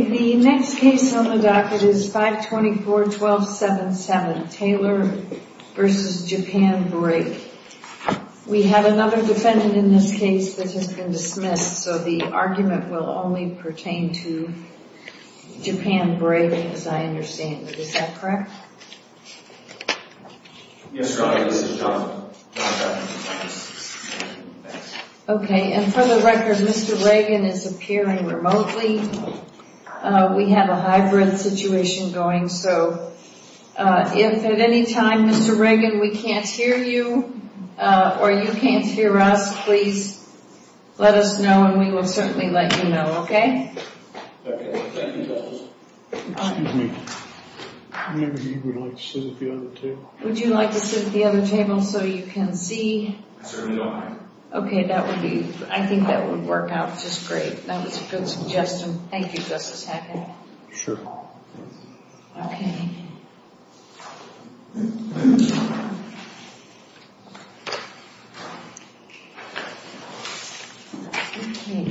The next case on the docket is 524-1277, Taylor v. Japan Brake. We have another defendant in this case that has been dismissed, so the argument will only pertain to Japan Brake, as I understand it. Is that correct? Yes, Your Honor. This is Jonathan. Okay. And for the record, Mr. Reagan is appearing remotely. We have a hybrid situation going, so if at any time, Mr. Reagan, we can't hear you, or you can't hear us, please let us know, and we will certainly let you know, okay? Okay. Thank you, Justice. Excuse me. Maybe you would like to sit at the other table. Would you like to sit at the other table so you can see? I certainly don't mind. Okay. That would be, I think that would work out just great. That was a good suggestion. Thank you, Justice Hackett. Sure.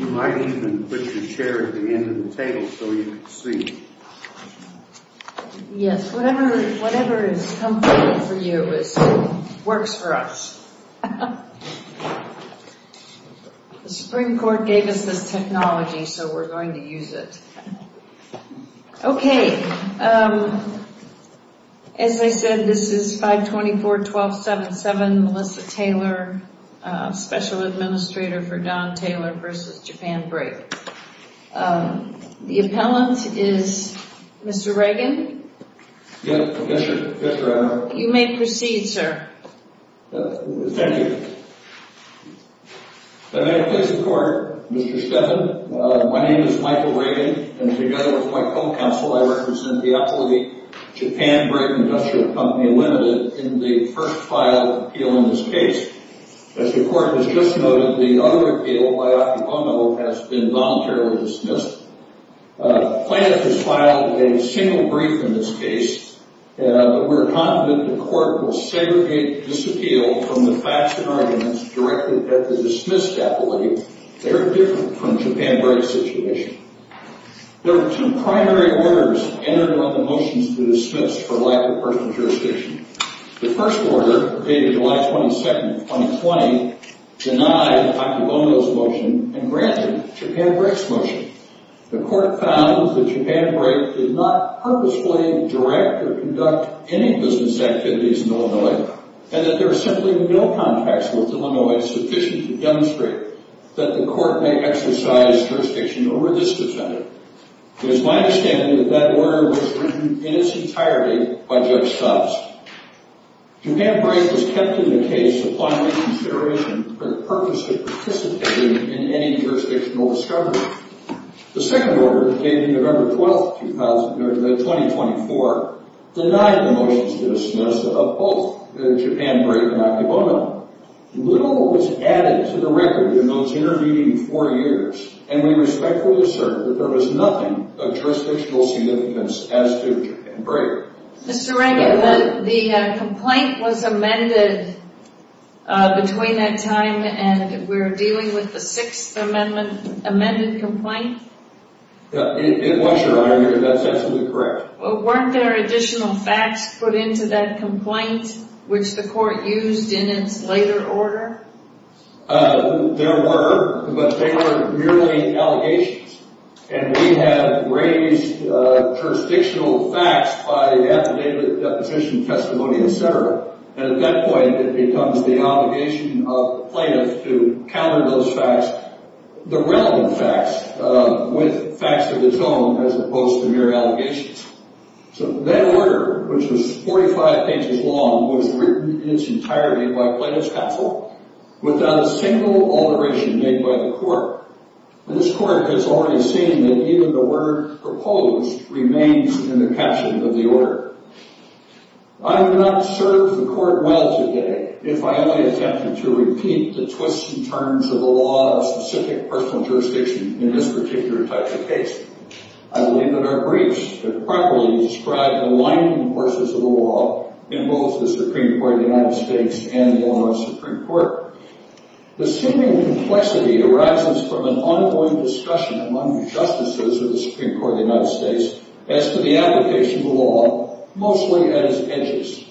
You might even put your chair at the end of the table so you can see. Yes, whatever is comfortable for you works for us. The Supreme Court gave us this technology, so we're going to use it. Okay. As I said, this is 524-1277, Melissa Taylor, Special Administrator for Don Taylor v. Japan Brake. The appellant is Mr. Reagan? Yes, Mr. Adler. You may proceed, sir. Thank you. May I please report, Mr. Stephan? My name is Michael Reagan, and together with my co-counsel, I represent the authority, Japan Brake Industrial Company Limited, in the first filed appeal in this case. As the Court has just noted, the other appeal by Octopono has been voluntarily dismissed. The plaintiff has filed a single brief in this case, but we're confident the Court will segregate this appeal from the facts and arguments directed at the dismissed appellee. They're different from Japan Brake's situation. There are two primary orders entered on the motions to dismiss for lack of personal jurisdiction. The first order, dated July 22, 2020, denied Octopono's motion and granted Japan Brake's motion. The Court found that Japan Brake did not purposefully direct or conduct any business activities in Illinois, and that there are simply no contacts with Illinois sufficient to demonstrate that the Court may exercise jurisdiction over this defendant. It is my understanding that that order was written in its entirety by Judge Stubbs. Japan Brake was kept in the case upon reconsideration for the purpose of participating in any jurisdictional discovery. The second order, dated November 12, 2024, denied the motions to dismiss of both Japan Brake and Octopono. Little was added to the record in those intervening four years, and we respectfully assert that there was nothing of jurisdictional significance as to Japan Brake. Mr. Rankin, the complaint was amended between that time and we're dealing with the Sixth Amendment amended complaint? It was, Your Honor. That's absolutely correct. Weren't there additional facts put into that complaint, which the Court used in its later order? There were, but they were merely allegations. And we have raised jurisdictional facts by affidavit, deposition, testimony, et cetera. And at that point, it becomes the obligation of plaintiffs to counter those facts, the relevant facts, with facts of its own as opposed to mere allegations. So that order, which was 45 pages long, was written in its entirety by plaintiffs' counsel without a single alteration made by the Court. This Court has already seen that even the word proposed remains in the caption of the order. I have not served the Court well today if I only attempted to repeat the twists and turns of the law of specific personal jurisdiction in this particular type of case. I believe that our briefs have properly described the lining forces of the law in both the Supreme Court of the United States and the Illinois Supreme Court. The seeming complexity arises from an ongoing discussion among justices of the Supreme Court of the United States as to the application of the law, mostly at its edges.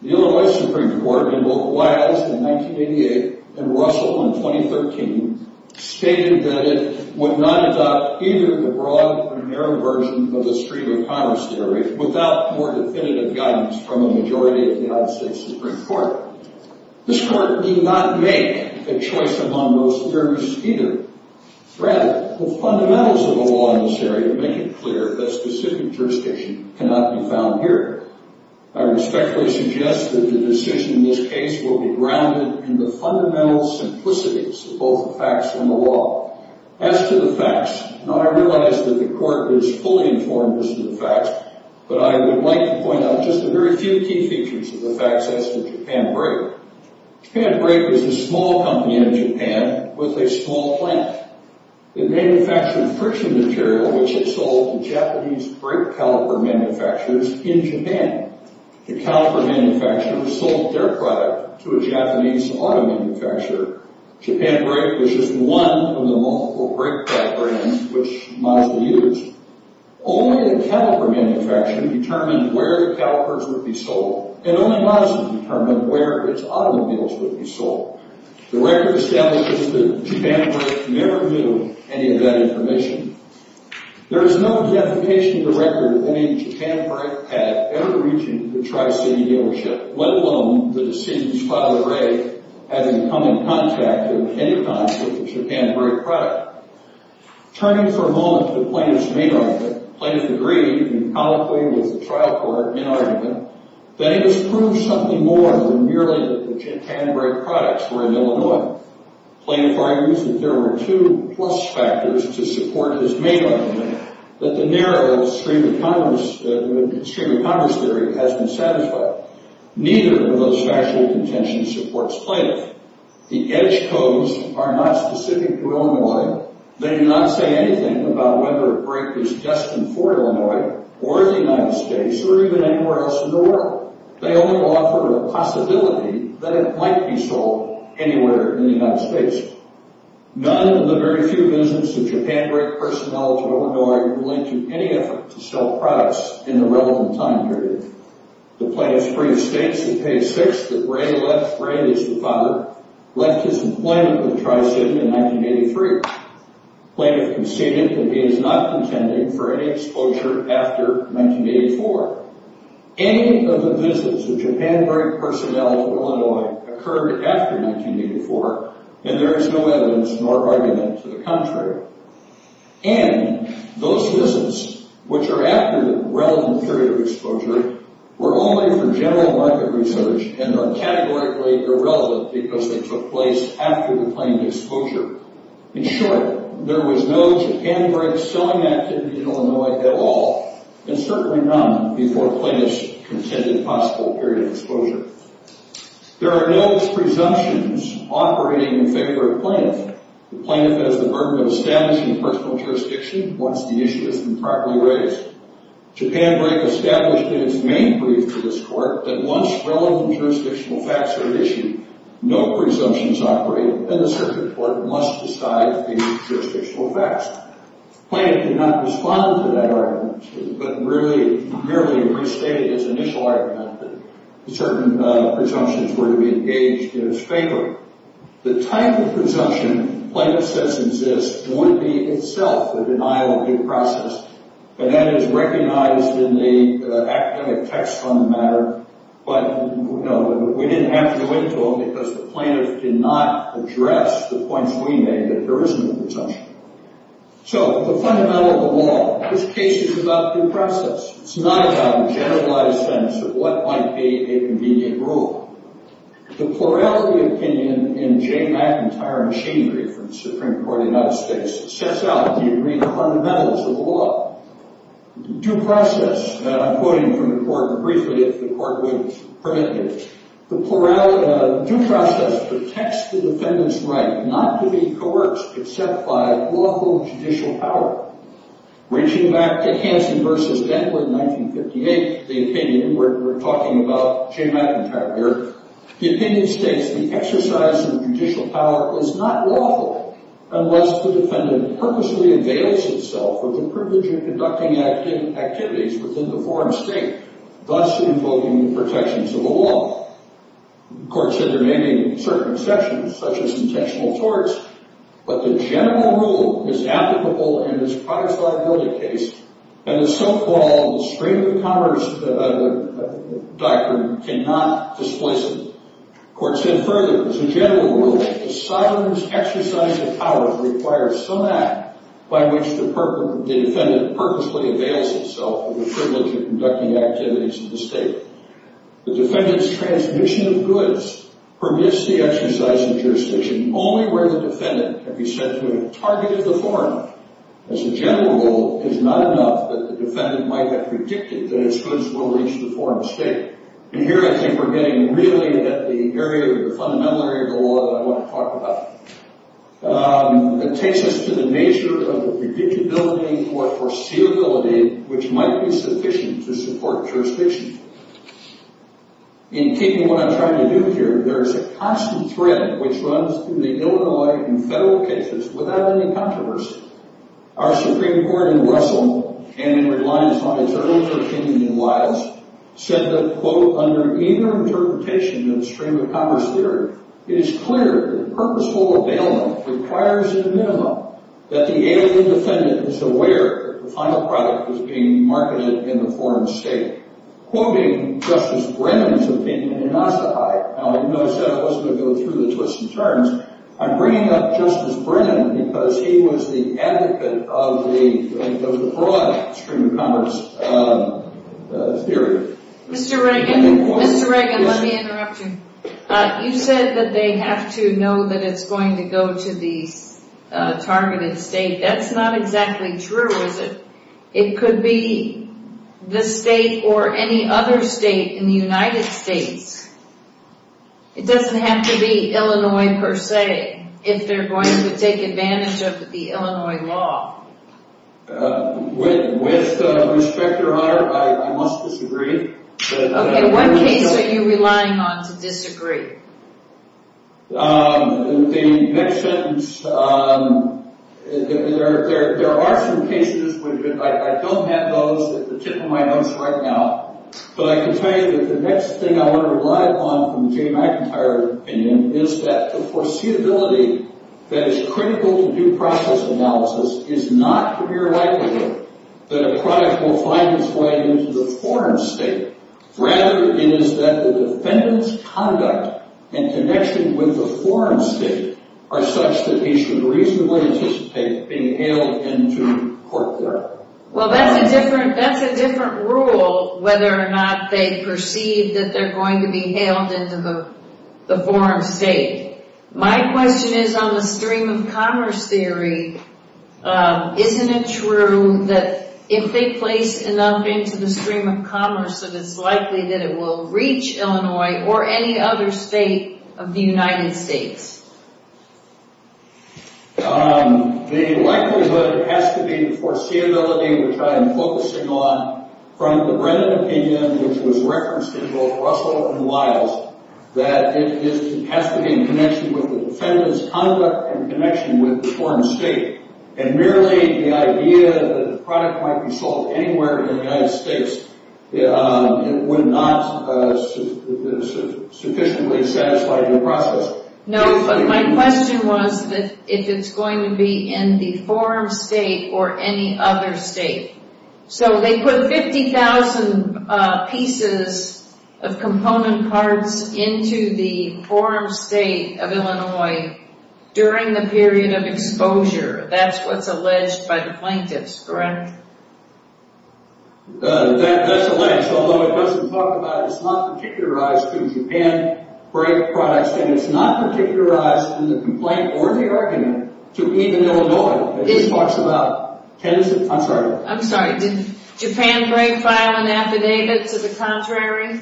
The Illinois Supreme Court, in both Wiles in 1988 and Russell in 2013, stated that it would not adopt either the broad or narrow version of the stream-of-commerce theory without more definitive guidance from a majority of the United States Supreme Court. This Court did not make a choice among those theories either. Rather, the fundamentals of the law in this area make it clear that specific jurisdiction cannot be found here. I respectfully suggest that the decision in this case will be grounded in the fundamental simplicities of both the facts and the law. As to the facts, I realize that the Court is fully informed as to the facts, but I would like to point out just a very few key features of the facts as to Japan Brake. Japan Brake was a small company in Japan with a small plant. It manufactured friction material, which it sold to Japanese brake caliper manufacturers in Japan. The caliper manufacturers sold their product to a Japanese auto manufacturer. Japan Brake was just one of the multiple brake caliper brands which Mazda used. Only the caliper manufacturing determined where the calipers would be sold, and only Mazda determined where its automobiles would be sold. The record establishes that Japan Brake never knew any of that information. There is no deification of the record that any Japan Brake had ever reached the Tri-City Dealership, let alone that the city's father, Ray, had come in contact at any time with the Japan Brake product. Turning for a moment to the plaintiff's main argument, the plaintiff agreed, and colloquially with the trial court in argument, that it has proved something more than merely that the Japan Brake products were in Illinois. The plaintiff argues that there were two plus factors to support his main argument, that the narrow extreme economics theory has been satisfied. Neither of those factual contentions supports plaintiff. The edge codes are not specific to Illinois. They do not say anything about whether a brake is destined for Illinois, or the United States, or even anywhere else in the world. They only offer a possibility that it might be sold anywhere in the United States. None of the very few businesses of Japan Brake personnel to Illinois were linked to any effort to sell products in the relevant time period. The plaintiff's brief states in page six that Ray, Ray is the father, left his employment with Tricin in 1983. Plaintiff conceded that he is not contending for any exposure after 1984. Any of the visits of Japan Brake personnel to Illinois occurred after 1984, and there is no evidence nor argument to the contrary. And those visits, which are after the relevant period of exposure, were only for general market research and are categorically irrelevant because they took place after the claimed exposure. In short, there was no Japan Brake selling activity in Illinois at all, and certainly none before plaintiff's contended possible period of exposure. There are no presumptions operating in favor of plaintiff. The plaintiff has the burden of establishing personal jurisdiction once the issue has been properly raised. Japan Brake established in its main brief to this court that once relevant jurisdictional facts are issued, no presumptions operate, and the circuit court must decide the jurisdictional facts. Plaintiff did not respond to that argument, but merely restated his initial argument that certain presumptions were to be engaged in his favor. The type of presumption plaintiff says exists would be itself a denial of due process, and that is recognized in the academic text on the matter. But we didn't have to go into them because the plaintiff did not address the points we made that there isn't a presumption. So the fundamental of the law. This case is about due process. It's not about a generalized sense of what might be a convenient rule. The plurality opinion in Jay McIntyre and Shane brief from the Supreme Court of the United States sets out the agreement fundamentals of the law. Due process, and I'm quoting from the court briefly if the court would permit me. The plurality of due process protects the defendant's right not to be coerced except by lawful judicial power. Reaching back to Hanson versus Bentley in 1958, the opinion we're talking about, Jay McIntyre here, the opinion states the exercise of judicial power is not lawful unless the defendant purposely avails itself of the privilege of conducting activities within the foreign state, thus invoking the protections of the law. The court said there may be certain exceptions, such as intentional thwarts, but the general rule is applicable in this price liability case, and the so-called stream of commerce doctrine cannot displace it. The court said further, as a general rule, the sovereign's exercise of powers requires some act by which the defendant purposely avails itself of the privilege of conducting activities in the state. The defendant's transmission of goods permits the exercise of jurisdiction only where the defendant can be said to have targeted the foreign. As a general rule, it's not enough that the defendant might have predicted that his goods will reach the foreign state. And here I think we're getting really at the area of the fundamental area of the law that I want to talk about. It takes us to the nature of the predictability or foreseeability which might be sufficient to support jurisdiction. In keeping what I'm trying to do here, there's a constant threat which runs through the Illinois and federal cases without any controversy. Our Supreme Court in Russell, and in reliance on its earlier opinion in Wiles, said that, quote, under either interpretation of the stream of commerce theory, it is clear that purposeful availment requires at a minimum that the alien defendant is aware the final product is being marketed in the foreign state. Quoting Justice Brennan's opinion in Ossetia. Now, you notice that I wasn't going to go through the twists and turns. I'm bringing up Justice Brennan because he was the advocate of the broad stream of commerce theory. Mr. Reagan, let me interrupt you. You said that they have to know that it's going to go to the targeted state. That's not exactly true, is it? It could be this state or any other state in the United States. It doesn't have to be Illinois, per se, if they're going to take advantage of the Illinois law. With respect, Your Honor, I must disagree. In what case are you relying on to disagree? The next sentence, there are some cases. I don't have those at the tip of my nose right now. But I can tell you that the next thing I want to rely upon from the Jamie McIntyre opinion is that the foreseeability that is critical to due process analysis is not the mere likelihood that a product will find its way into the foreign state. Rather, it is that the defendant's conduct and connection with the foreign state are such that he should reasonably anticipate being hailed into court there. Well, that's a different rule, whether or not they perceive that they're going to be hailed into the foreign state. My question is on the stream of commerce theory. Isn't it true that if they place enough into the stream of commerce that it's likely that it will reach Illinois or any other state of the United States? The likelihood has to be the foreseeability, which I am focusing on, from the Brennan opinion, which was referenced in both Russell and Wiles, that it has to be in connection with the defendant's conduct and connection with the foreign state. And merely the idea that the product might be sold anywhere in the United States would not sufficiently satisfy due process. No, but my question was if it's going to be in the foreign state or any other state. So they put 50,000 pieces of component parts into the foreign state of Illinois during the period of exposure. That's what's alleged by the plaintiffs, correct? That's alleged, although it doesn't talk about it. It's not particularized to Japan-branded products, and it's not particularized in the complaint or the argument to even Illinois. I'm sorry. I'm sorry. Did Japan break file an affidavit to the contrary?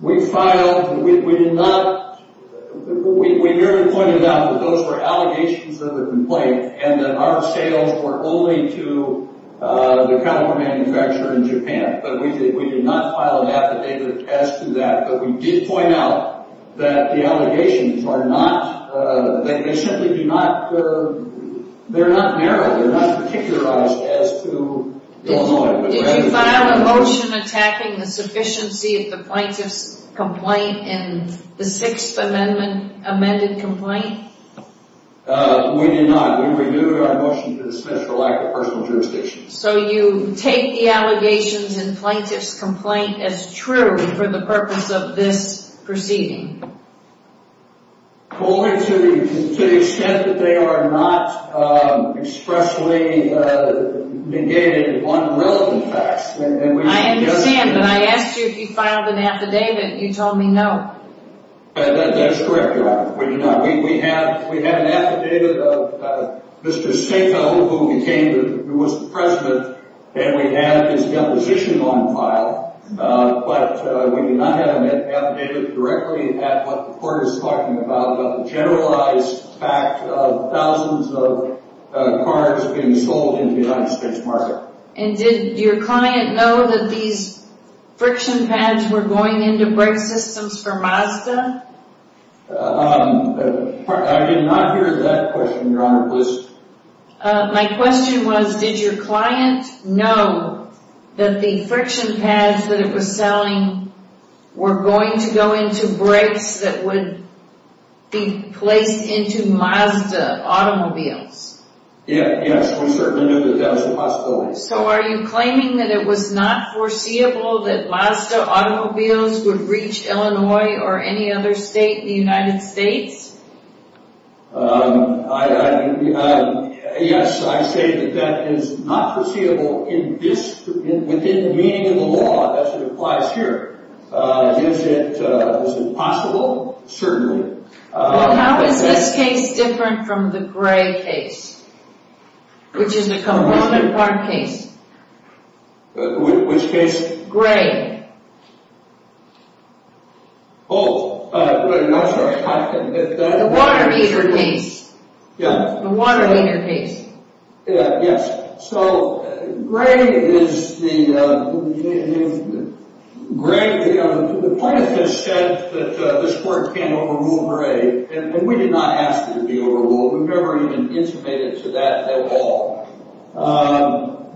We filed. We did not. We merely pointed out that those were allegations of the complaint and that our sales were only to the caliber manufacturer in Japan. But we did not file an affidavit as to that. But we did point out that the allegations are not, they simply do not, they're not narrow. They're not particularized as to Illinois. Did you file a motion attacking the sufficiency of the plaintiff's complaint in the Sixth Amendment amended complaint? We did not. We renewed our motion to dismiss for lack of personal jurisdiction. So you take the allegations in the plaintiff's complaint as true for the purpose of this proceeding? Only to the extent that they are not expressly negated on the relevant facts. I understand, but I asked you if you filed an affidavit. You told me no. That's correct. We did not. Mr. Sato, who became, who was the president, and we have his composition on file. But we do not have an affidavit directly at what the court is talking about, but the generalized fact of thousands of cars being sold in the United States market. And did your client know that these friction pads were going into brake systems for Mazda? I did not hear that question, Your Honor. My question was, did your client know that the friction pads that it was selling were going to go into brakes that would be placed into Mazda automobiles? Yes, we certainly knew that that was a possibility. So are you claiming that it was not foreseeable that Mazda automobiles would reach Illinois or any other state in the United States? Yes, I say that that is not foreseeable in this, within the meaning of the law, as it applies here. Is it possible? Certainly. Well, how is this case different from the Gray case, which is a component part case? Which case? Which case? Both. I'm sorry. The Watermeeter case. Yes. The Watermeeter case. Yes. So Gray is the... Gray, the plaintiff has said that this court can't overrule Gray, and we did not ask it to be overruled. We've never even intimated to that at all.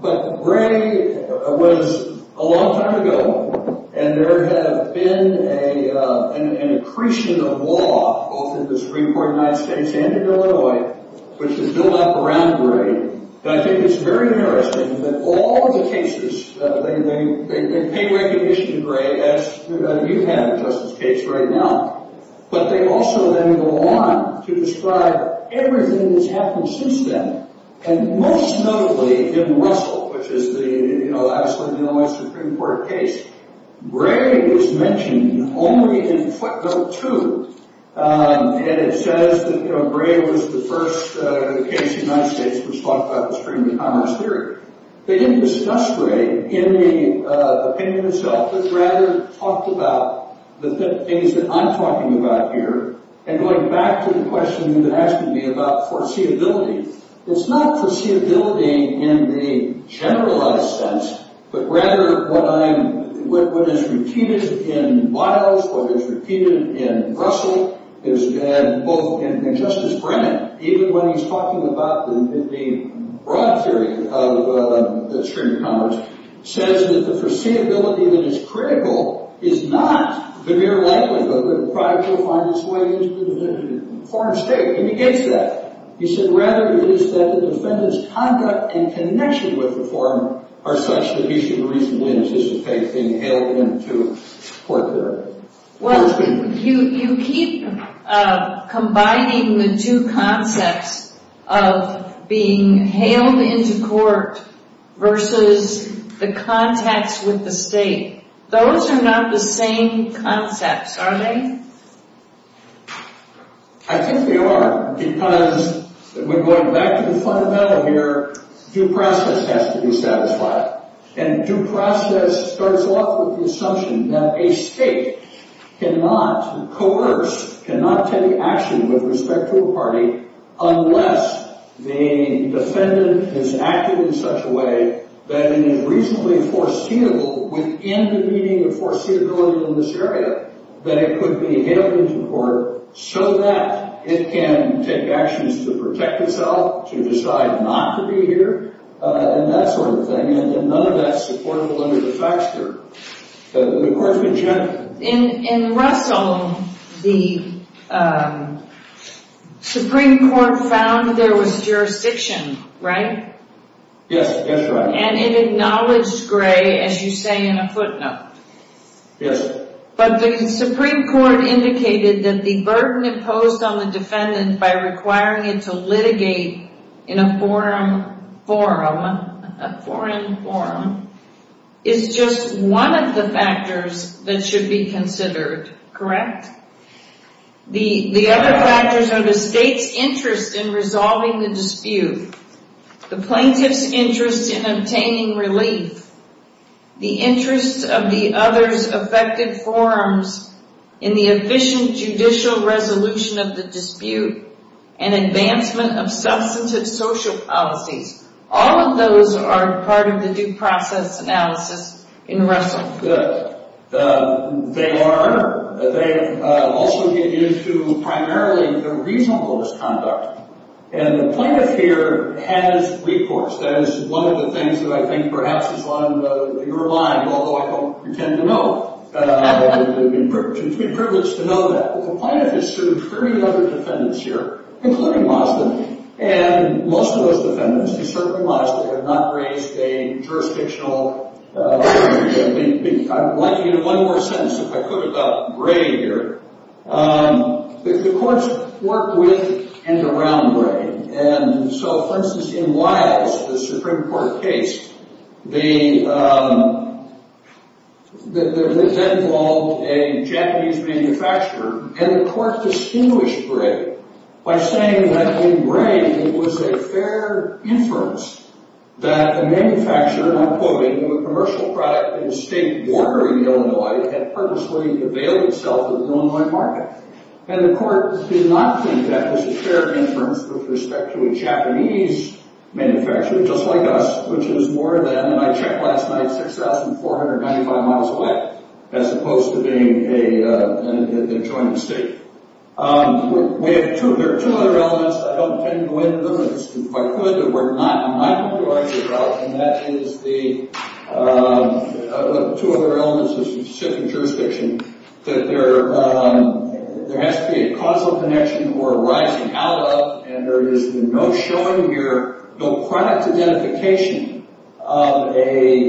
But Gray was a long time ago, and there has been an accretion of law, both in the Supreme Court in the United States and in Illinois, which has built up around Gray. And I think it's very interesting that all the cases, they pay recognition to Gray, as you have, Justice Cates, right now. But they also then go on to describe everything that's happened since then, and most notably, in Russell, which is the, you know, obviously the Illinois Supreme Court case, Gray was mentioned only in footnote two, and it says that, you know, Gray was the first case in the United States which talked about the stream of commerce theory. They didn't discuss Gray in the opinion itself, but rather talked about the things that I'm talking about here, and going back to the question you've been asking me about foreseeability, it's not foreseeability in the generalized sense, but rather what I'm, what is repeated in Miles, what is repeated in Russell, and both in Justice Brennan, even when he's talking about the broad theory of stream of commerce, says that the foreseeability that is critical is not the mere likelihood that a product will find its way into the foreign state, and he gets that. He said, rather, it is that the defendant's conduct in connection with the foreign are such that he should reasonably insist that they be hailed into court there. Well, you keep combining the two concepts of being hailed into court versus the contacts with the state. Those are not the same concepts, are they? I think they are, because when going back to the fundamental here, due process has to be satisfied, and due process starts off with the assumption that a state cannot coerce, cannot take action with respect to a party unless the defendant is acting in such a way that it is reasonably foreseeable within the meaning of foreseeability in this area that it could be hailed into court so that it can take actions to protect itself, to decide not to be here, and that sort of thing, and none of that's supportable under the facts here. The court's been gentle. In Russell, the Supreme Court found there was jurisdiction, right? Yes, that's right. And it acknowledged Gray, as you say, in a footnote. Yes. But the Supreme Court indicated that the burden imposed on the defendant by requiring it to litigate in a foreign forum is just one of the factors that should be considered, correct? The other factors are the state's interest in resolving the dispute, the plaintiff's interest in obtaining relief, the interests of the other's affected forums in the efficient judicial resolution of the dispute, and advancement of substantive social policies. All of those are part of the due process analysis in Russell. Good. They are. They also get into primarily the reasonable misconduct. And the plaintiff here has recourse. That is one of the things that I think perhaps is on your mind, although I don't pretend to know. It would be a privilege to know that. The plaintiff has sued three other defendants here, including Mazda, and most of those defendants, they certainly must have not raised a jurisdictional issue. I'd like to get one more sentence, if I could, about Gray here. The courts work with and around Gray. And so, for instance, in Wiles, the Supreme Court case, that involved a Japanese manufacturer, and the court distinguished Gray by saying that in Gray, it was a fair inference that the manufacturer, and I'm quoting, of a commercial product in a state border in Illinois had purposely availed itself of the Illinois market. And the court did not think that was a fair inference with respect to a Japanese manufacturer, just like us, which is more than, and I checked last night, 6,495 miles away, as opposed to being a joint state. We have two other elements. I don't intend to go into them. If I could, there were not. I'm not going to argue about, and that is the two other elements of specific jurisdiction, that there has to be a causal connection or a rising out of, and there is no showing here, no product identification of a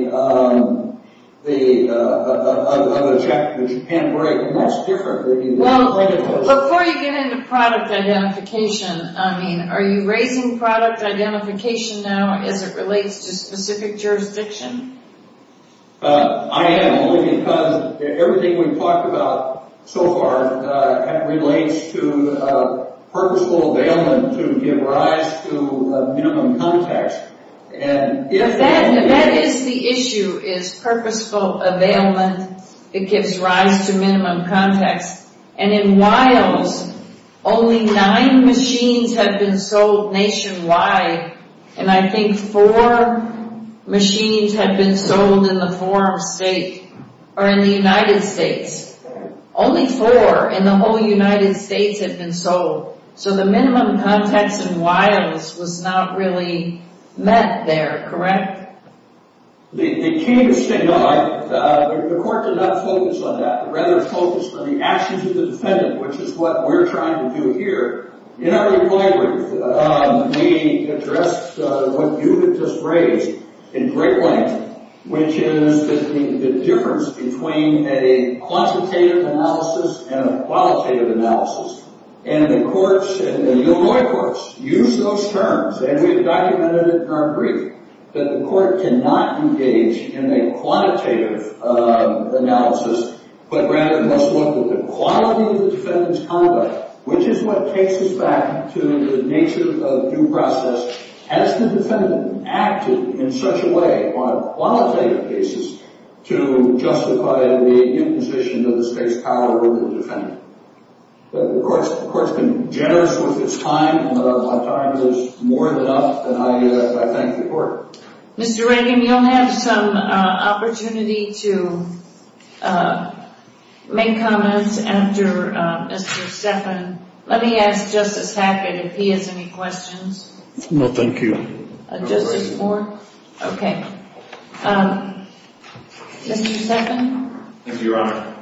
Japan-Gray. And that's different. Well, before you get into product identification, are you raising product identification now as it relates to specific jurisdiction? I am, only because everything we've talked about so far relates to purposeful availment to give rise to minimum context. If that is the issue, is purposeful availment, it gives rise to minimum context. And in Wiles, only nine machines have been sold nationwide, and I think four machines have been sold in the United States. Only four in the whole United States have been sold. So the minimum context in Wiles was not really met there, correct? The court did not focus on that. Rather, it focused on the actions of the defendant, which is what we're trying to do here. In our reply brief, we addressed what you had just raised in great length, which is the difference between a quantitative analysis and a qualitative analysis. And the courts and the Illinois courts use those terms, and we've documented it in our brief, that the court cannot engage in a quantitative analysis, but rather must look at the quality of the defendant's conduct, which is what takes us back to the nature of due process. Has the defendant acted in such a way on a qualitative basis to justify the imposition of the state's power over the defendant? The court's been generous with its time, and my time is more than enough, and I thank the court. Mr. Reagan, you'll have some opportunity to make comments after Mr. Steffen. Let me ask Justice Hackett if he has any questions. No, thank you. Justice Moore? Okay. Mr. Steffen? Thank you, Your Honor.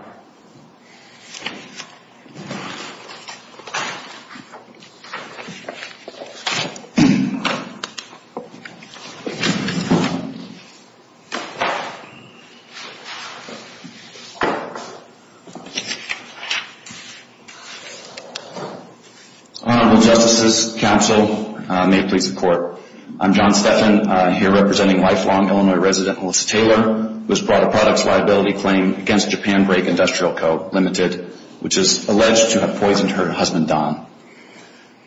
Honorable Justices, Counsel, may it please the Court. I'm John Steffen, here representing lifelong Illinois resident Melissa Taylor, who has brought a products liability claim against Japan Brake Industrial Co., Ltd., which is alleged to have poisoned her husband, Don.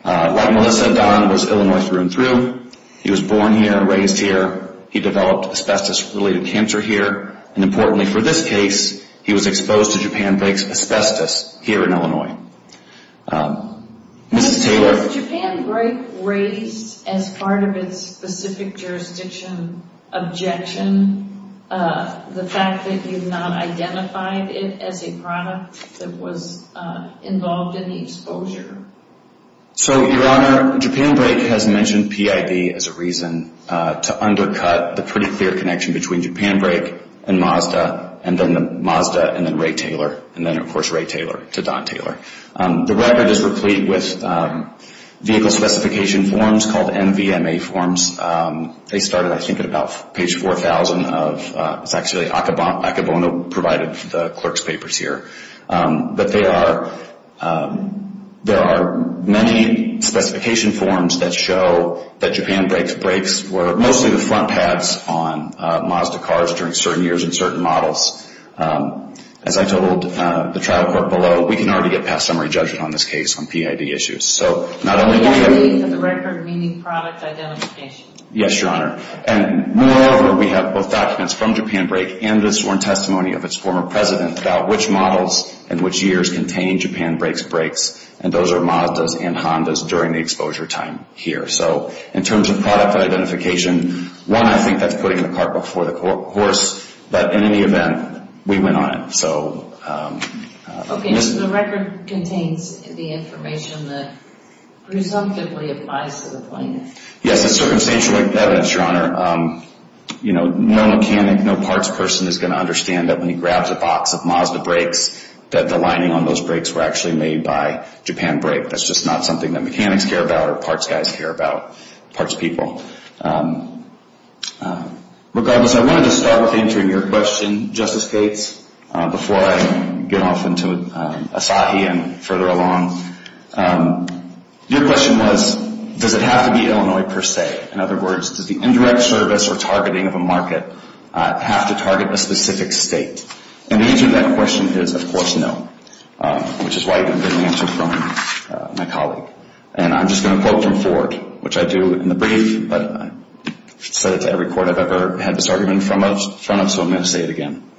Like Melissa, Don was Illinois through and through. He was born here, raised here. He developed asbestos-related cancer here, and importantly for this case, he was exposed to Japan Brake's asbestos here in Illinois. Mrs. Taylor? Was Japan Brake raised as part of its specific jurisdiction objection, the fact that you've not identified it as a product that was involved in the exposure? So, Your Honor, Japan Brake has mentioned PID as a reason to undercut the pretty clear connection between Japan Brake and Mazda, and then Mazda and then Ray Taylor, and then, of course, Ray Taylor to Don Taylor. The record is replete with vehicle specification forms called NVMA forms. They started, I think, at about page 4,000. It's actually Akebono provided the clerk's papers here. But there are many specification forms that show that Japan Brake's brakes were mostly the front pads on Mazda cars during certain years in certain models. As I told the trial court below, we can already get past summary judgment on this case on PID issues. So not only do we have— PID is a record meaning product identification. Yes, Your Honor. And moreover, we have both documents from Japan Brake and the sworn testimony of its former president about which models and which years contain Japan Brake's brakes, and those are Mazda's and Honda's during the exposure time here. So in terms of product identification, one, I think that's putting the cart before the horse. But in any event, we went on it. So— Okay, so the record contains the information that presumptively applies to the plaintiff. Yes, it's circumstantial evidence, Your Honor. No mechanic, no parts person is going to understand that when he grabs a box of Mazda brakes that the lining on those brakes were actually made by Japan Brake. That's just not something that mechanics care about or parts guys care about, parts people. Regardless, I wanted to start with answering your question, Justice Cates, before I get off into Asahi and further along. Your question was, does it have to be Illinois per se? In other words, does the indirect service or targeting of a market have to target a specific state? And the answer to that question is, of course, no, which is why you didn't get an answer from my colleague. And I'm just going to quote from Ford, which I do in the brief, but I've said it to every court I've ever had this argument in front of, so I'm going to say it again.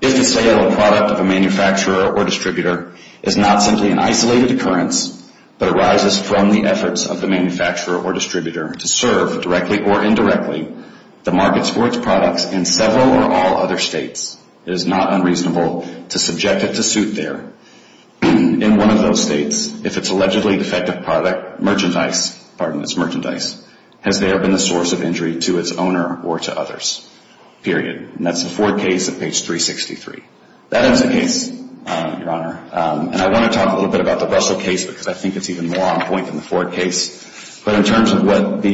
If the sale or product of a manufacturer or distributor is not simply an isolated occurrence but arises from the efforts of the manufacturer or distributor to serve, directly or indirectly, the markets for its products in several or all other states, it is not unreasonable to subject it to suit there. In one of those states, if it's allegedly defective product, merchandise, has there been a source of injury to its owner or to others, period. And that's the Ford case at page 363. That is the case, Your Honor. And I want to talk a little bit about the Russell case because I think it's even more on point than the Ford case. But in terms of what the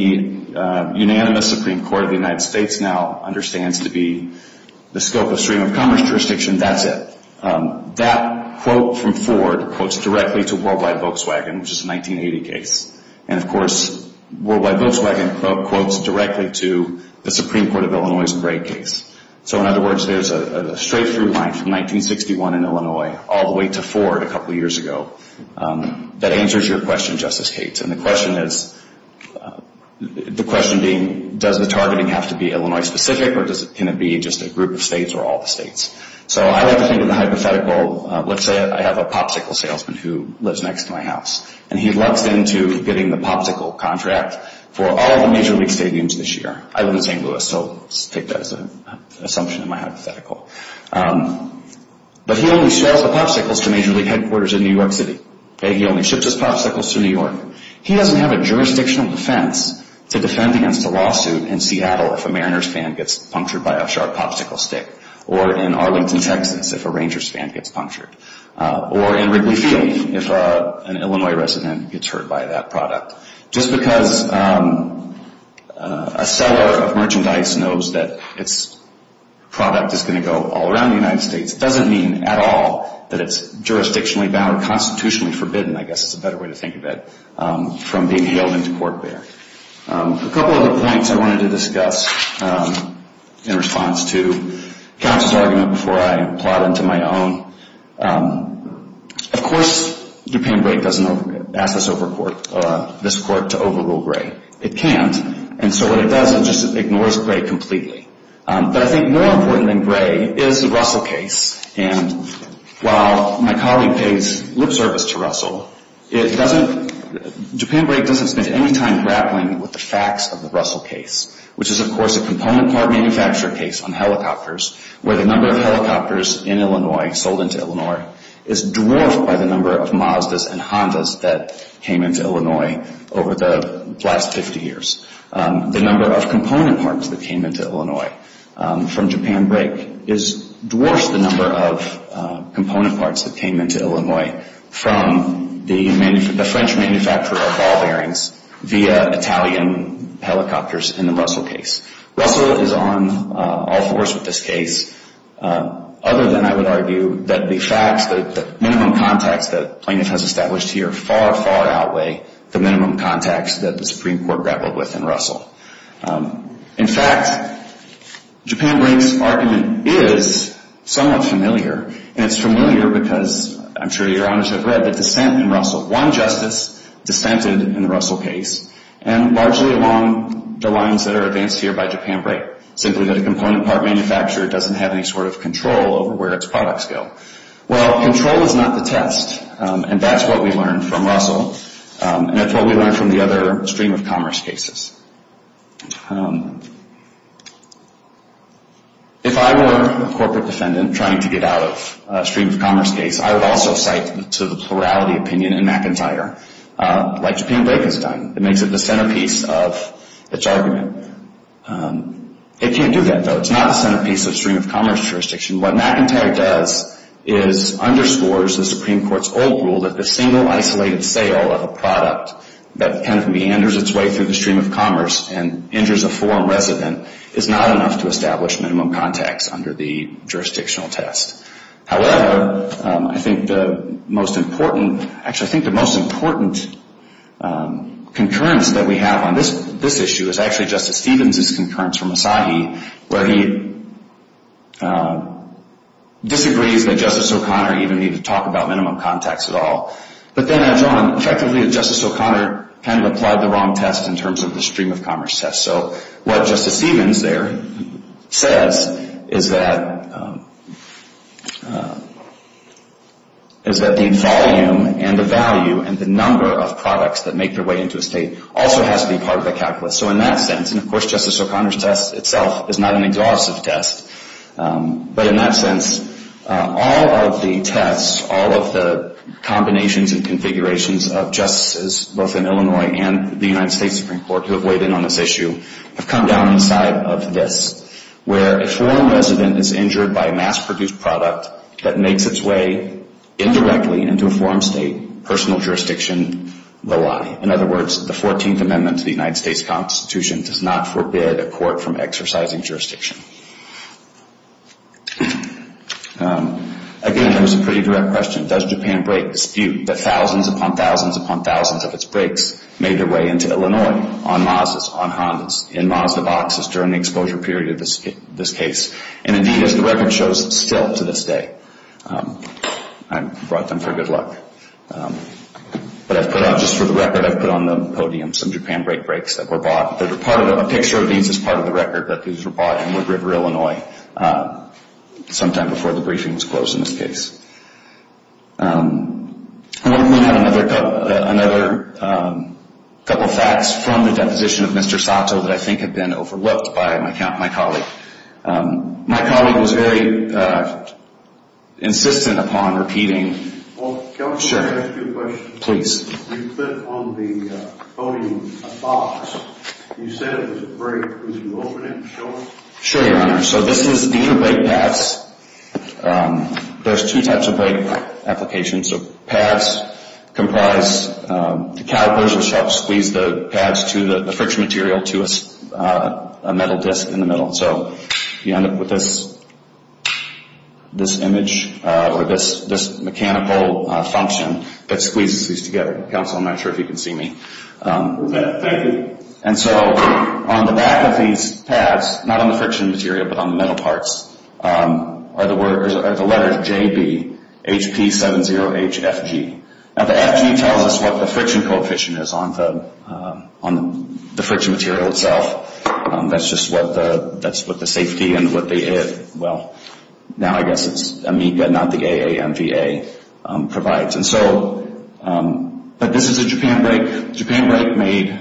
unanimous Supreme Court of the United States now understands to be the scope of stream of commerce jurisdiction, that's it. That quote from Ford quotes directly to Worldwide Volkswagen, which is a 1980 case. And, of course, Worldwide Volkswagen quotes directly to the Supreme Court of Illinois' Gray case. So, in other words, there's a straight-through line from 1961 in Illinois all the way to Ford a couple years ago. That answers your question, Justice Cates. And the question is, the question being, does the targeting have to be Illinois-specific or can it be just a group of states or all the states? So I like to think of the hypothetical. Let's say I have a Popsicle salesman who lives next to my house. And he loves getting the Popsicle contract for all the major league stadiums this year. I live in St. Louis, so I'll take that as an assumption in my hypothetical. But he only sells the Popsicles to major league headquarters in New York City. He only ships his Popsicles to New York. He doesn't have a jurisdictional defense to defend against a lawsuit in Seattle if a Mariners fan gets punctured by a sharp Popsicle stick or in Arlington, Texas if a Rangers fan gets punctured or in Wrigley Field if an Illinois resident gets hurt by that product. Just because a seller of merchandise knows that its product is going to go all around the United States doesn't mean at all that it's jurisdictionally bound or constitutionally forbidden, I guess is a better way to think of it, from being hailed into court there. A couple of the points I wanted to discuss in response to counsel's argument before I plod into my own. Of course, Japan Brake doesn't ask this court to overrule Gray. It can't. And so what it does, it just ignores Gray completely. But I think more important than Gray is the Russell case. And while my colleague pays lip service to Russell, Japan Brake doesn't spend any time grappling with the facts of the Russell case, which is, of course, a component part manufacturer case on helicopters where the number of helicopters in Illinois sold into Illinois is dwarfed by the number of Mazdas and Hondas that came into Illinois over the last 50 years. The number of component parts that came into Illinois from Japan Brake is dwarfed the number of component parts that came into Illinois from the French manufacturer of ball bearings via Italian helicopters in the Russell case. Russell is on all fours with this case, other than, I would argue, that the facts that the minimum contacts that plaintiff has established here far, far outweigh the minimum contacts that the Supreme Court grappled with in Russell. In fact, Japan Brake's argument is somewhat familiar. And it's familiar because I'm sure Your Honors have read the dissent in Russell. One justice dissented in the Russell case. And largely along the lines that are advanced here by Japan Brake, simply that a component part manufacturer doesn't have any sort of control over where its products go. Well, control is not the test, and that's what we learned from Russell, and that's what we learned from the other stream-of-commerce cases. If I were a corporate defendant trying to get out of a stream-of-commerce case, I would also cite to the plurality opinion in McIntyre, like Japan Brake has done. It makes it the centerpiece of its argument. It can't do that, though. It's not the centerpiece of stream-of-commerce jurisdiction. What McIntyre does is underscores the Supreme Court's old rule that the single isolated sale of a product that kind of meanders its way through the stream-of-commerce and injures a foreign resident is not enough to establish minimum contacts under the jurisdictional test. However, I think the most important, actually I think the most important concurrence that we have on this issue is actually Justice Stevens' concurrence from Asahi, where he disagrees that Justice O'Connor even need to talk about minimum contacts at all. But then adds on, effectively that Justice O'Connor kind of applied the wrong test in terms of the stream-of-commerce test. So what Justice Stevens there says is that the volume and the value and the number of products that make their way into a state also has to be part of the calculus. So in that sense, and of course Justice O'Connor's test itself is not an exhaustive test, but in that sense all of the tests, all of the combinations and configurations of justices both in Illinois and the United States Supreme Court who have weighed in on this issue have come down inside of this, where a foreign resident is injured by a mass-produced product that makes its way indirectly into a foreign state, personal jurisdiction will lie. In other words, the Fourteenth Amendment to the United States Constitution does not forbid a court from exercising jurisdiction. Again, that was a pretty direct question. Does Japan break the dispute that thousands upon thousands upon thousands of its brakes made their way into Illinois on Mazdas, on Hondas, in Mazda boxes during the exposure period of this case? And indeed, as the record shows, still to this day. I brought them for good luck. But I've put out, just for the record, I've put on the podium some Japan brake brakes that were bought. A picture of these is part of the record that these were bought in Wood River, Illinois sometime before the briefing was closed in this case. I want to point out another couple of facts from the deposition of Mr. Sato that I think have been overlooked by my colleague. My colleague was very insistent upon repeating... Well, can I ask you a question? Please. You put on the podium a box. You said it was a brake. Could you open it and show us? Sure, Your Honor. So this is the new brake pads. There's two types of brake applications. So pads comprise... Calipers will squeeze the pads to the friction material to a metal disc in the middle. So you end up with this image or this mechanical function that squeezes these together. Counsel, I'm not sure if you can see me. Thank you. And so on the back of these pads, not on the friction material but on the metal parts, are the letters JB, HP70HFG. Now the FG tells us what the friction coefficient is on the friction material itself. That's just what the safety and what the... Well, now I guess it's AMICA, not the AAMVA, provides. But this is a Japan brake. Japan brake made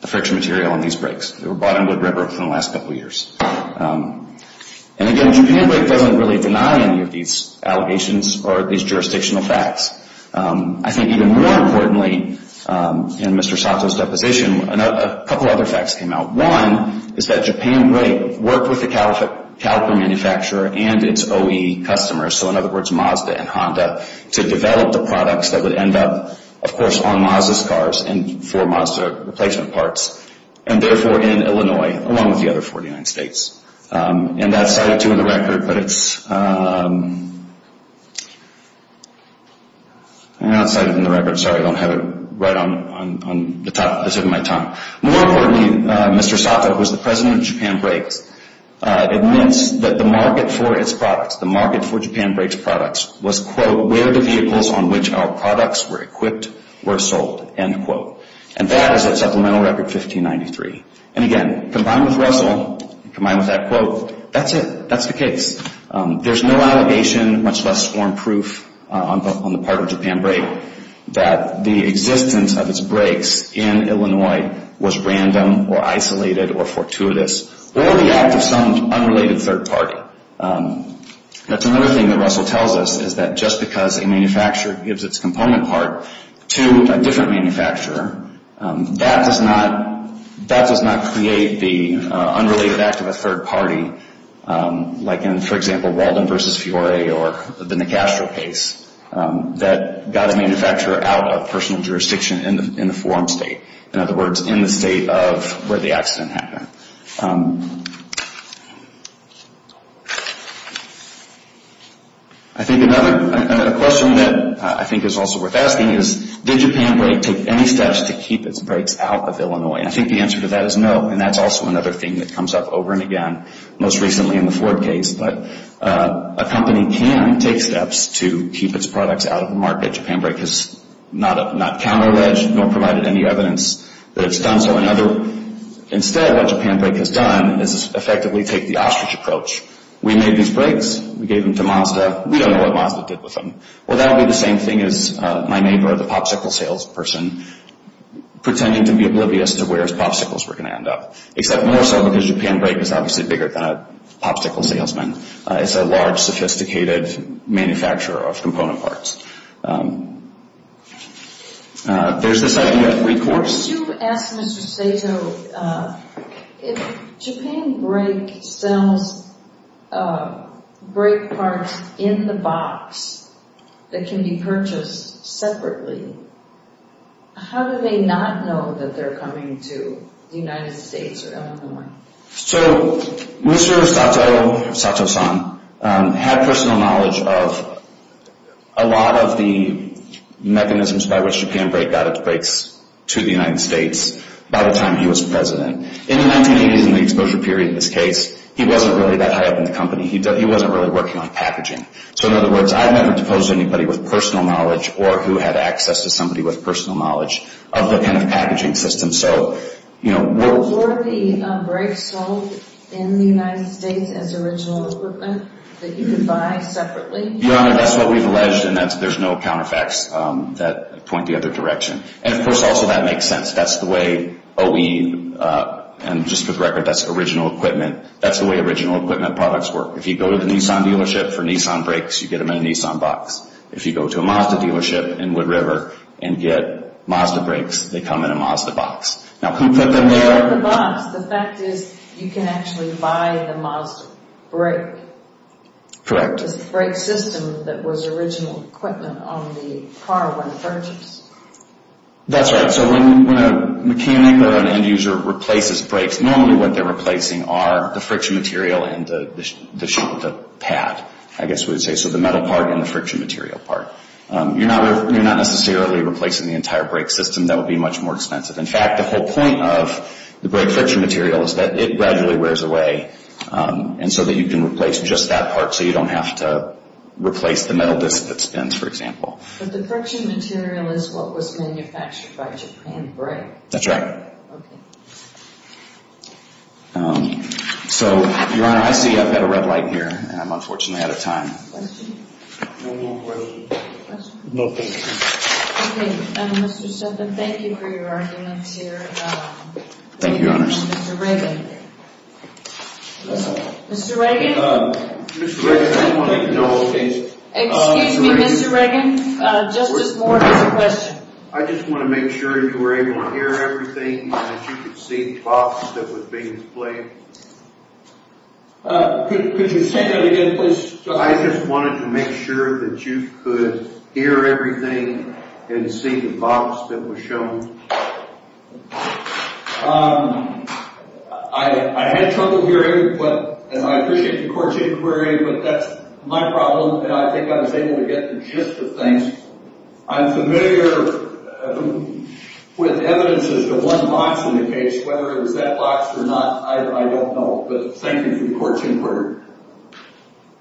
the friction material on these brakes. They were bought on Wood River for the last couple of years. And again, Japan brake doesn't really deny any of these allegations or these jurisdictional facts. I think even more importantly, in Mr. Sato's deposition, a couple of other facts came out. One is that Japan brake worked with the caliper manufacturer and its OE customers, so in other words Mazda and Honda, to develop the products that would end up, of course, on Mazda's cars and for Mazda replacement parts, and therefore in Illinois along with the other 49 states. And that's cited, too, in the record, but it's... I know it's cited in the record. Sorry, I don't have it right on the top. I'm saving my time. More importantly, Mr. Sato, who is the president of Japan brakes, admits that the market for its products, the market for Japan brakes products, was, quote, where the vehicles on which our products were equipped were sold, end quote. And that is a supplemental record 1593. And again, combined with Russell, combined with that quote, that's it. That's the case. There's no allegation, much less form proof, on the part of Japan brake that the existence of its brakes in Illinois was random or isolated or fortuitous. Or the act of some unrelated third party. That's another thing that Russell tells us, is that just because a manufacturer gives its component part to a different manufacturer, that does not create the unrelated act of a third party, like in, for example, Walden versus Fiore or the Nicastro case, that got a manufacturer out of personal jurisdiction in the forum state. In other words, in the state of where the accident happened. I think another question that I think is also worth asking is, did Japan brake take any steps to keep its brakes out of Illinois? And I think the answer to that is no. And that's also another thing that comes up over and again, most recently in the Ford case. But a company can take steps to keep its products out of the market. Japan brake has not counterledged nor provided any evidence that it's done so. Instead, what Japan brake has done is effectively take the ostrich approach. We made these brakes. We gave them to Mazda. We don't know what Mazda did with them. Well, that would be the same thing as my neighbor, the popsicle salesperson, pretending to be oblivious to where his popsicles were going to end up. Except more so because Japan brake is obviously bigger than a popsicle salesman. It's a large, sophisticated manufacturer of component parts. There's this idea of recourse. Could you ask Mr. Sato, if Japan brake sells brake parts in the box that can be purchased separately, how do they not know that they're coming to the United States or Illinois? So Mr. Sato, Sato-san, had personal knowledge of a lot of the mechanisms by which Japan brake got its brakes to the United States by the time he was president. In the 1980s, in the exposure period in this case, he wasn't really that high up in the company. He wasn't really working on packaging. So in other words, I've never proposed to anybody with personal knowledge or who had access to somebody with personal knowledge of the kind of packaging system. Were the brakes sold in the United States as original equipment that you could buy separately? Your Honor, that's what we've alleged, and there's no counterfeits that point the other direction. And of course, also that makes sense. That's the way OE, and just for the record, that's original equipment. That's the way original equipment products work. If you go to the Nissan dealership for Nissan brakes, you get them in a Nissan box. If you go to a Mazda dealership in Wood River and get Mazda brakes, they come in a Mazda box. Now who put them there? Who put them in the box? The fact is you can actually buy the Mazda brake. Correct. The brake system that was original equipment on the car when purchased. That's right. So when a mechanic or an end user replaces brakes, normally what they're replacing are the friction material and the pad, I guess we would say. So the metal part and the friction material part. You're not necessarily replacing the entire brake system. That would be much more expensive. In fact, the whole point of the brake friction material is that it gradually wears away and so that you can replace just that part so you don't have to replace the metal disc that spins, for example. But the friction material is what was manufactured by Japan Brake. That's right. Okay. So, Your Honor, I see I've got a red light here and I'm unfortunately out of time. Questions? No more questions. Questions? No, thank you. Okay. Mr. Sutton, thank you for your arguments here. Thank you, Your Honors. Mr. Reagan. Mr. Reagan? Mr. Reagan, I don't want to get into all these. Excuse me, Mr. Reagan. Justice Moore has a question. I just want to make sure you were able to hear everything and that you could see the box that was being displayed. Could you say that again, please? I just wanted to make sure that you could hear everything and see the box that was shown. I had trouble hearing and I appreciate your court's inquiry, but that's my problem. I think I was able to get the gist of things. I'm familiar with evidences of one box in the case. Whether it was that box or not, I don't know. But thank you for your court's inquiry.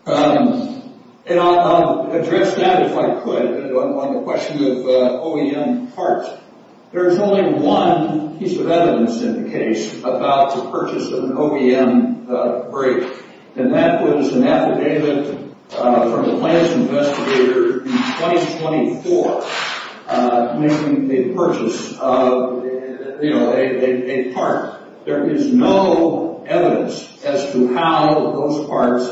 And I'll address that if I could on the question of OEM parts. There's only one piece of evidence in the case about the purchase of an OEM brake. And that was an affidavit from the Lance Investigator in 2024, making a purchase of, you know, a part. There is no evidence as to how those parts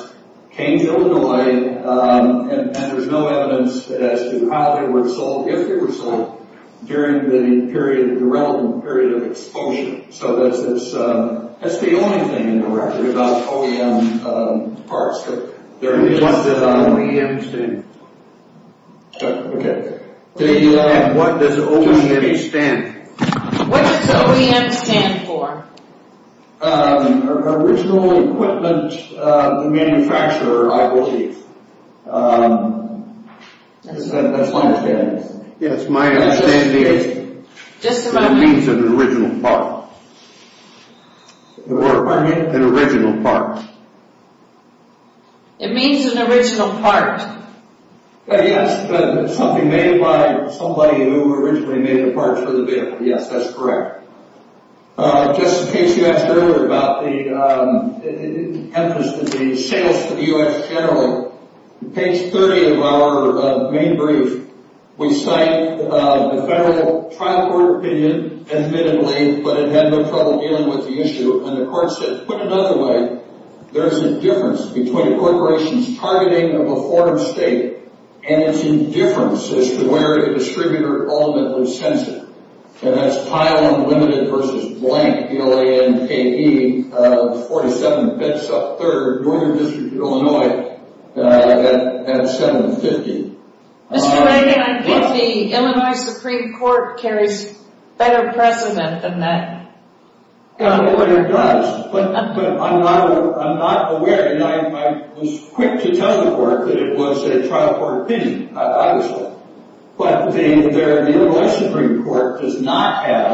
came to Illinois. And there's no evidence as to how they were sold, if they were sold, during the relevant period of exposure. So that's the only thing in the record about OEM parts. There are many ones that are on OEMs, too. Okay. What does OEM stand for? What does OEM stand for? Original Equipment Manufacturer, I believe. That's my understanding. Yes, my understanding is it means an original part. Pardon me? An original part. It means an original part. Yes, something made by somebody who originally made the parts for the vehicle. Yes, that's correct. Just in case you asked earlier about the emphasis of the sales to the U.S. general, page 30 of our main brief, we cite the federal trial court opinion, admittedly, but it had no trouble dealing with the issue. And the court said, put another way, there's a difference between a corporation's targeting of a foreign state and its indifference as to where the distributor ultimately sends it. And that's Pyle Unlimited versus Blank, B-L-A-N-K-E, 47 Bedsop Third, Northern District of Illinois, at 750. Mr. Reagan, I think the Illinois Supreme Court carries better precedent than that. It does, but I'm not aware, and I was quick to tell the court that it was a trial court opinion, obviously. But the Illinois Supreme Court does not have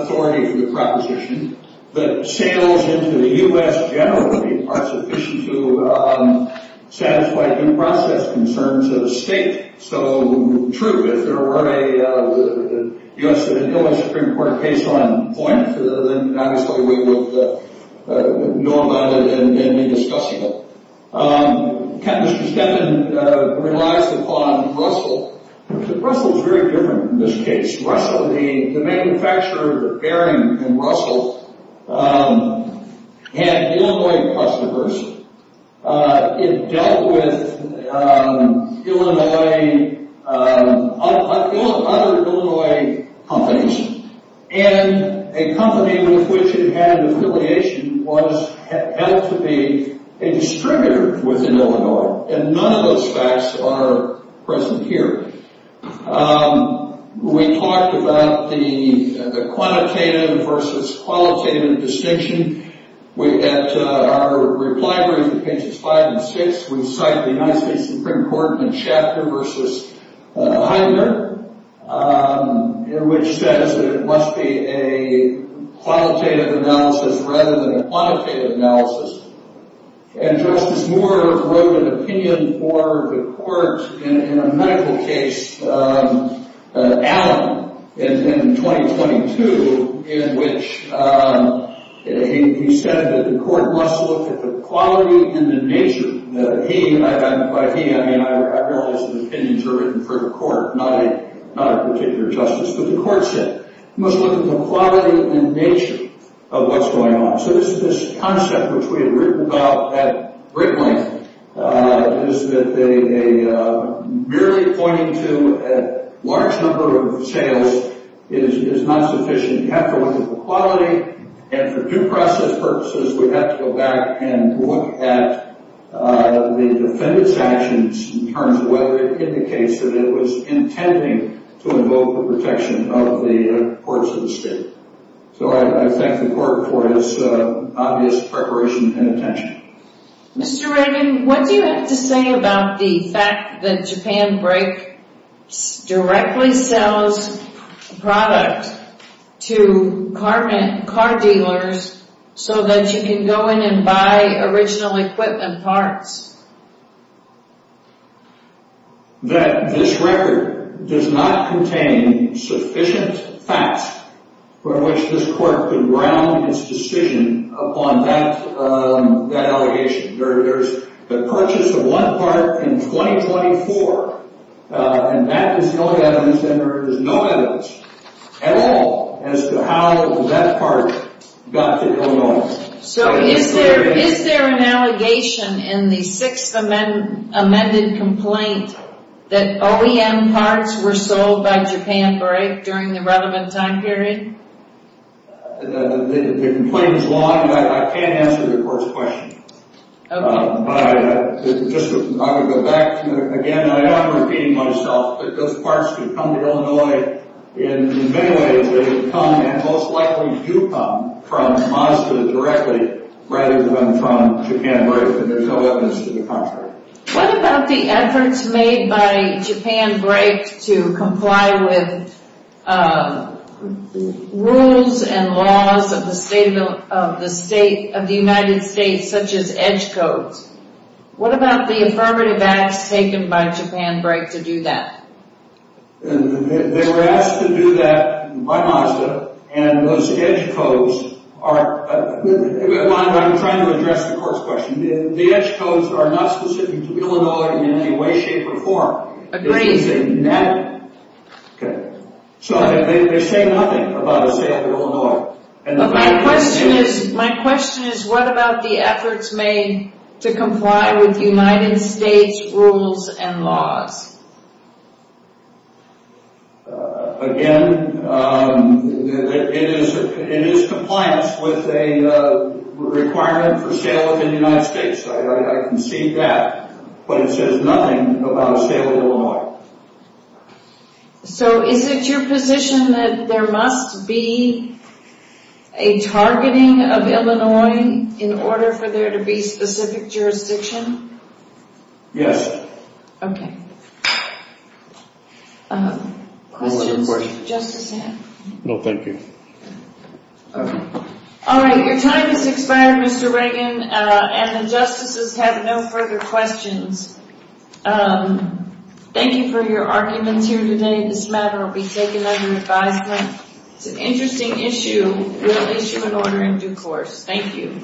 authority for the proposition that sales into the U.S. generally are sufficient to satisfy due process concerns of a state. So, true, if there were a U.S. and Illinois Supreme Court case on point, then obviously we would know about it and be discussing it. Mr. Stepin relies upon Russell. Russell's very different in this case. Russell, the manufacturer of Bering and Russell, had Illinois customers. It dealt with Illinois, other Illinois companies. And a company with which it had an affiliation was held to be a distributor within Illinois. And none of those facts are present here. We talked about the quantitative versus qualitative distinction. At our reply brief in pages five and six, we cite the United States Supreme Court in a chapter versus Heidner, which says that it must be a qualitative analysis rather than a quantitative analysis. And Justice Moore wrote an opinion for the court in a medical case, Allen, in 2022, in which he said that the court must look at the quality and the nature. By he, I realize that opinions are written for the court, not a particular justice. But the court said it must look at the quality and nature of what's going on. So this concept which we had written about at great length is that merely pointing to a large number of sales is not sufficient. You have to look at the quality. And for due process purposes, we have to go back and look at the defendant's actions in terms of whether it indicates that it was intending to invoke the protection of the courts of the state. So I thank the court for its obvious preparation and attention. Mr. Raymond, what do you have to say about the fact that Japan Brake directly sells product to car dealers so that you can go in and buy original equipment parts? That this record does not contain sufficient facts for which this court can ground its decision upon that allegation. There's the purchase of one part in 2024, and that is the only evidence, and there is no evidence at all as to how that part got to Illinois. So is there an allegation in the sixth amended complaint that OEM parts were sold by Japan Brake during the relevant time period? The complaint is long, and I can't answer the first question. Okay. But I would go back to, again, I'm repeating myself, that those parts could come to Illinois in many ways. They would come, and most likely do come, from Honolulu directly rather than from Japan Brake, and there's no evidence to the contrary. What about the efforts made by Japan Brake to comply with rules and laws of the state of the United States, such as edge codes? What about the affirmative acts taken by Japan Brake to do that? They were asked to do that by Mazda, and those edge codes are... I'm trying to address the court's question. The edge codes are not specific to Illinois in any way, shape, or form. Agreed. Okay. So they say nothing about the state of Illinois. My question is, what about the efforts made to comply with United States rules and laws? Again, it is compliance with a requirement for sale of the United States. I can see that, but it says nothing about sale of Illinois. So is it your position that there must be a targeting of Illinois in order for there to be specific jurisdiction? Yes. Okay. Questions? No, thank you. Okay. All right, your time has expired, Mr. Reagan, and the justices have no further questions. Thank you for your arguments here today. This matter will be taken under advisement. It's an interesting issue. We'll issue an order in due course. Thank you.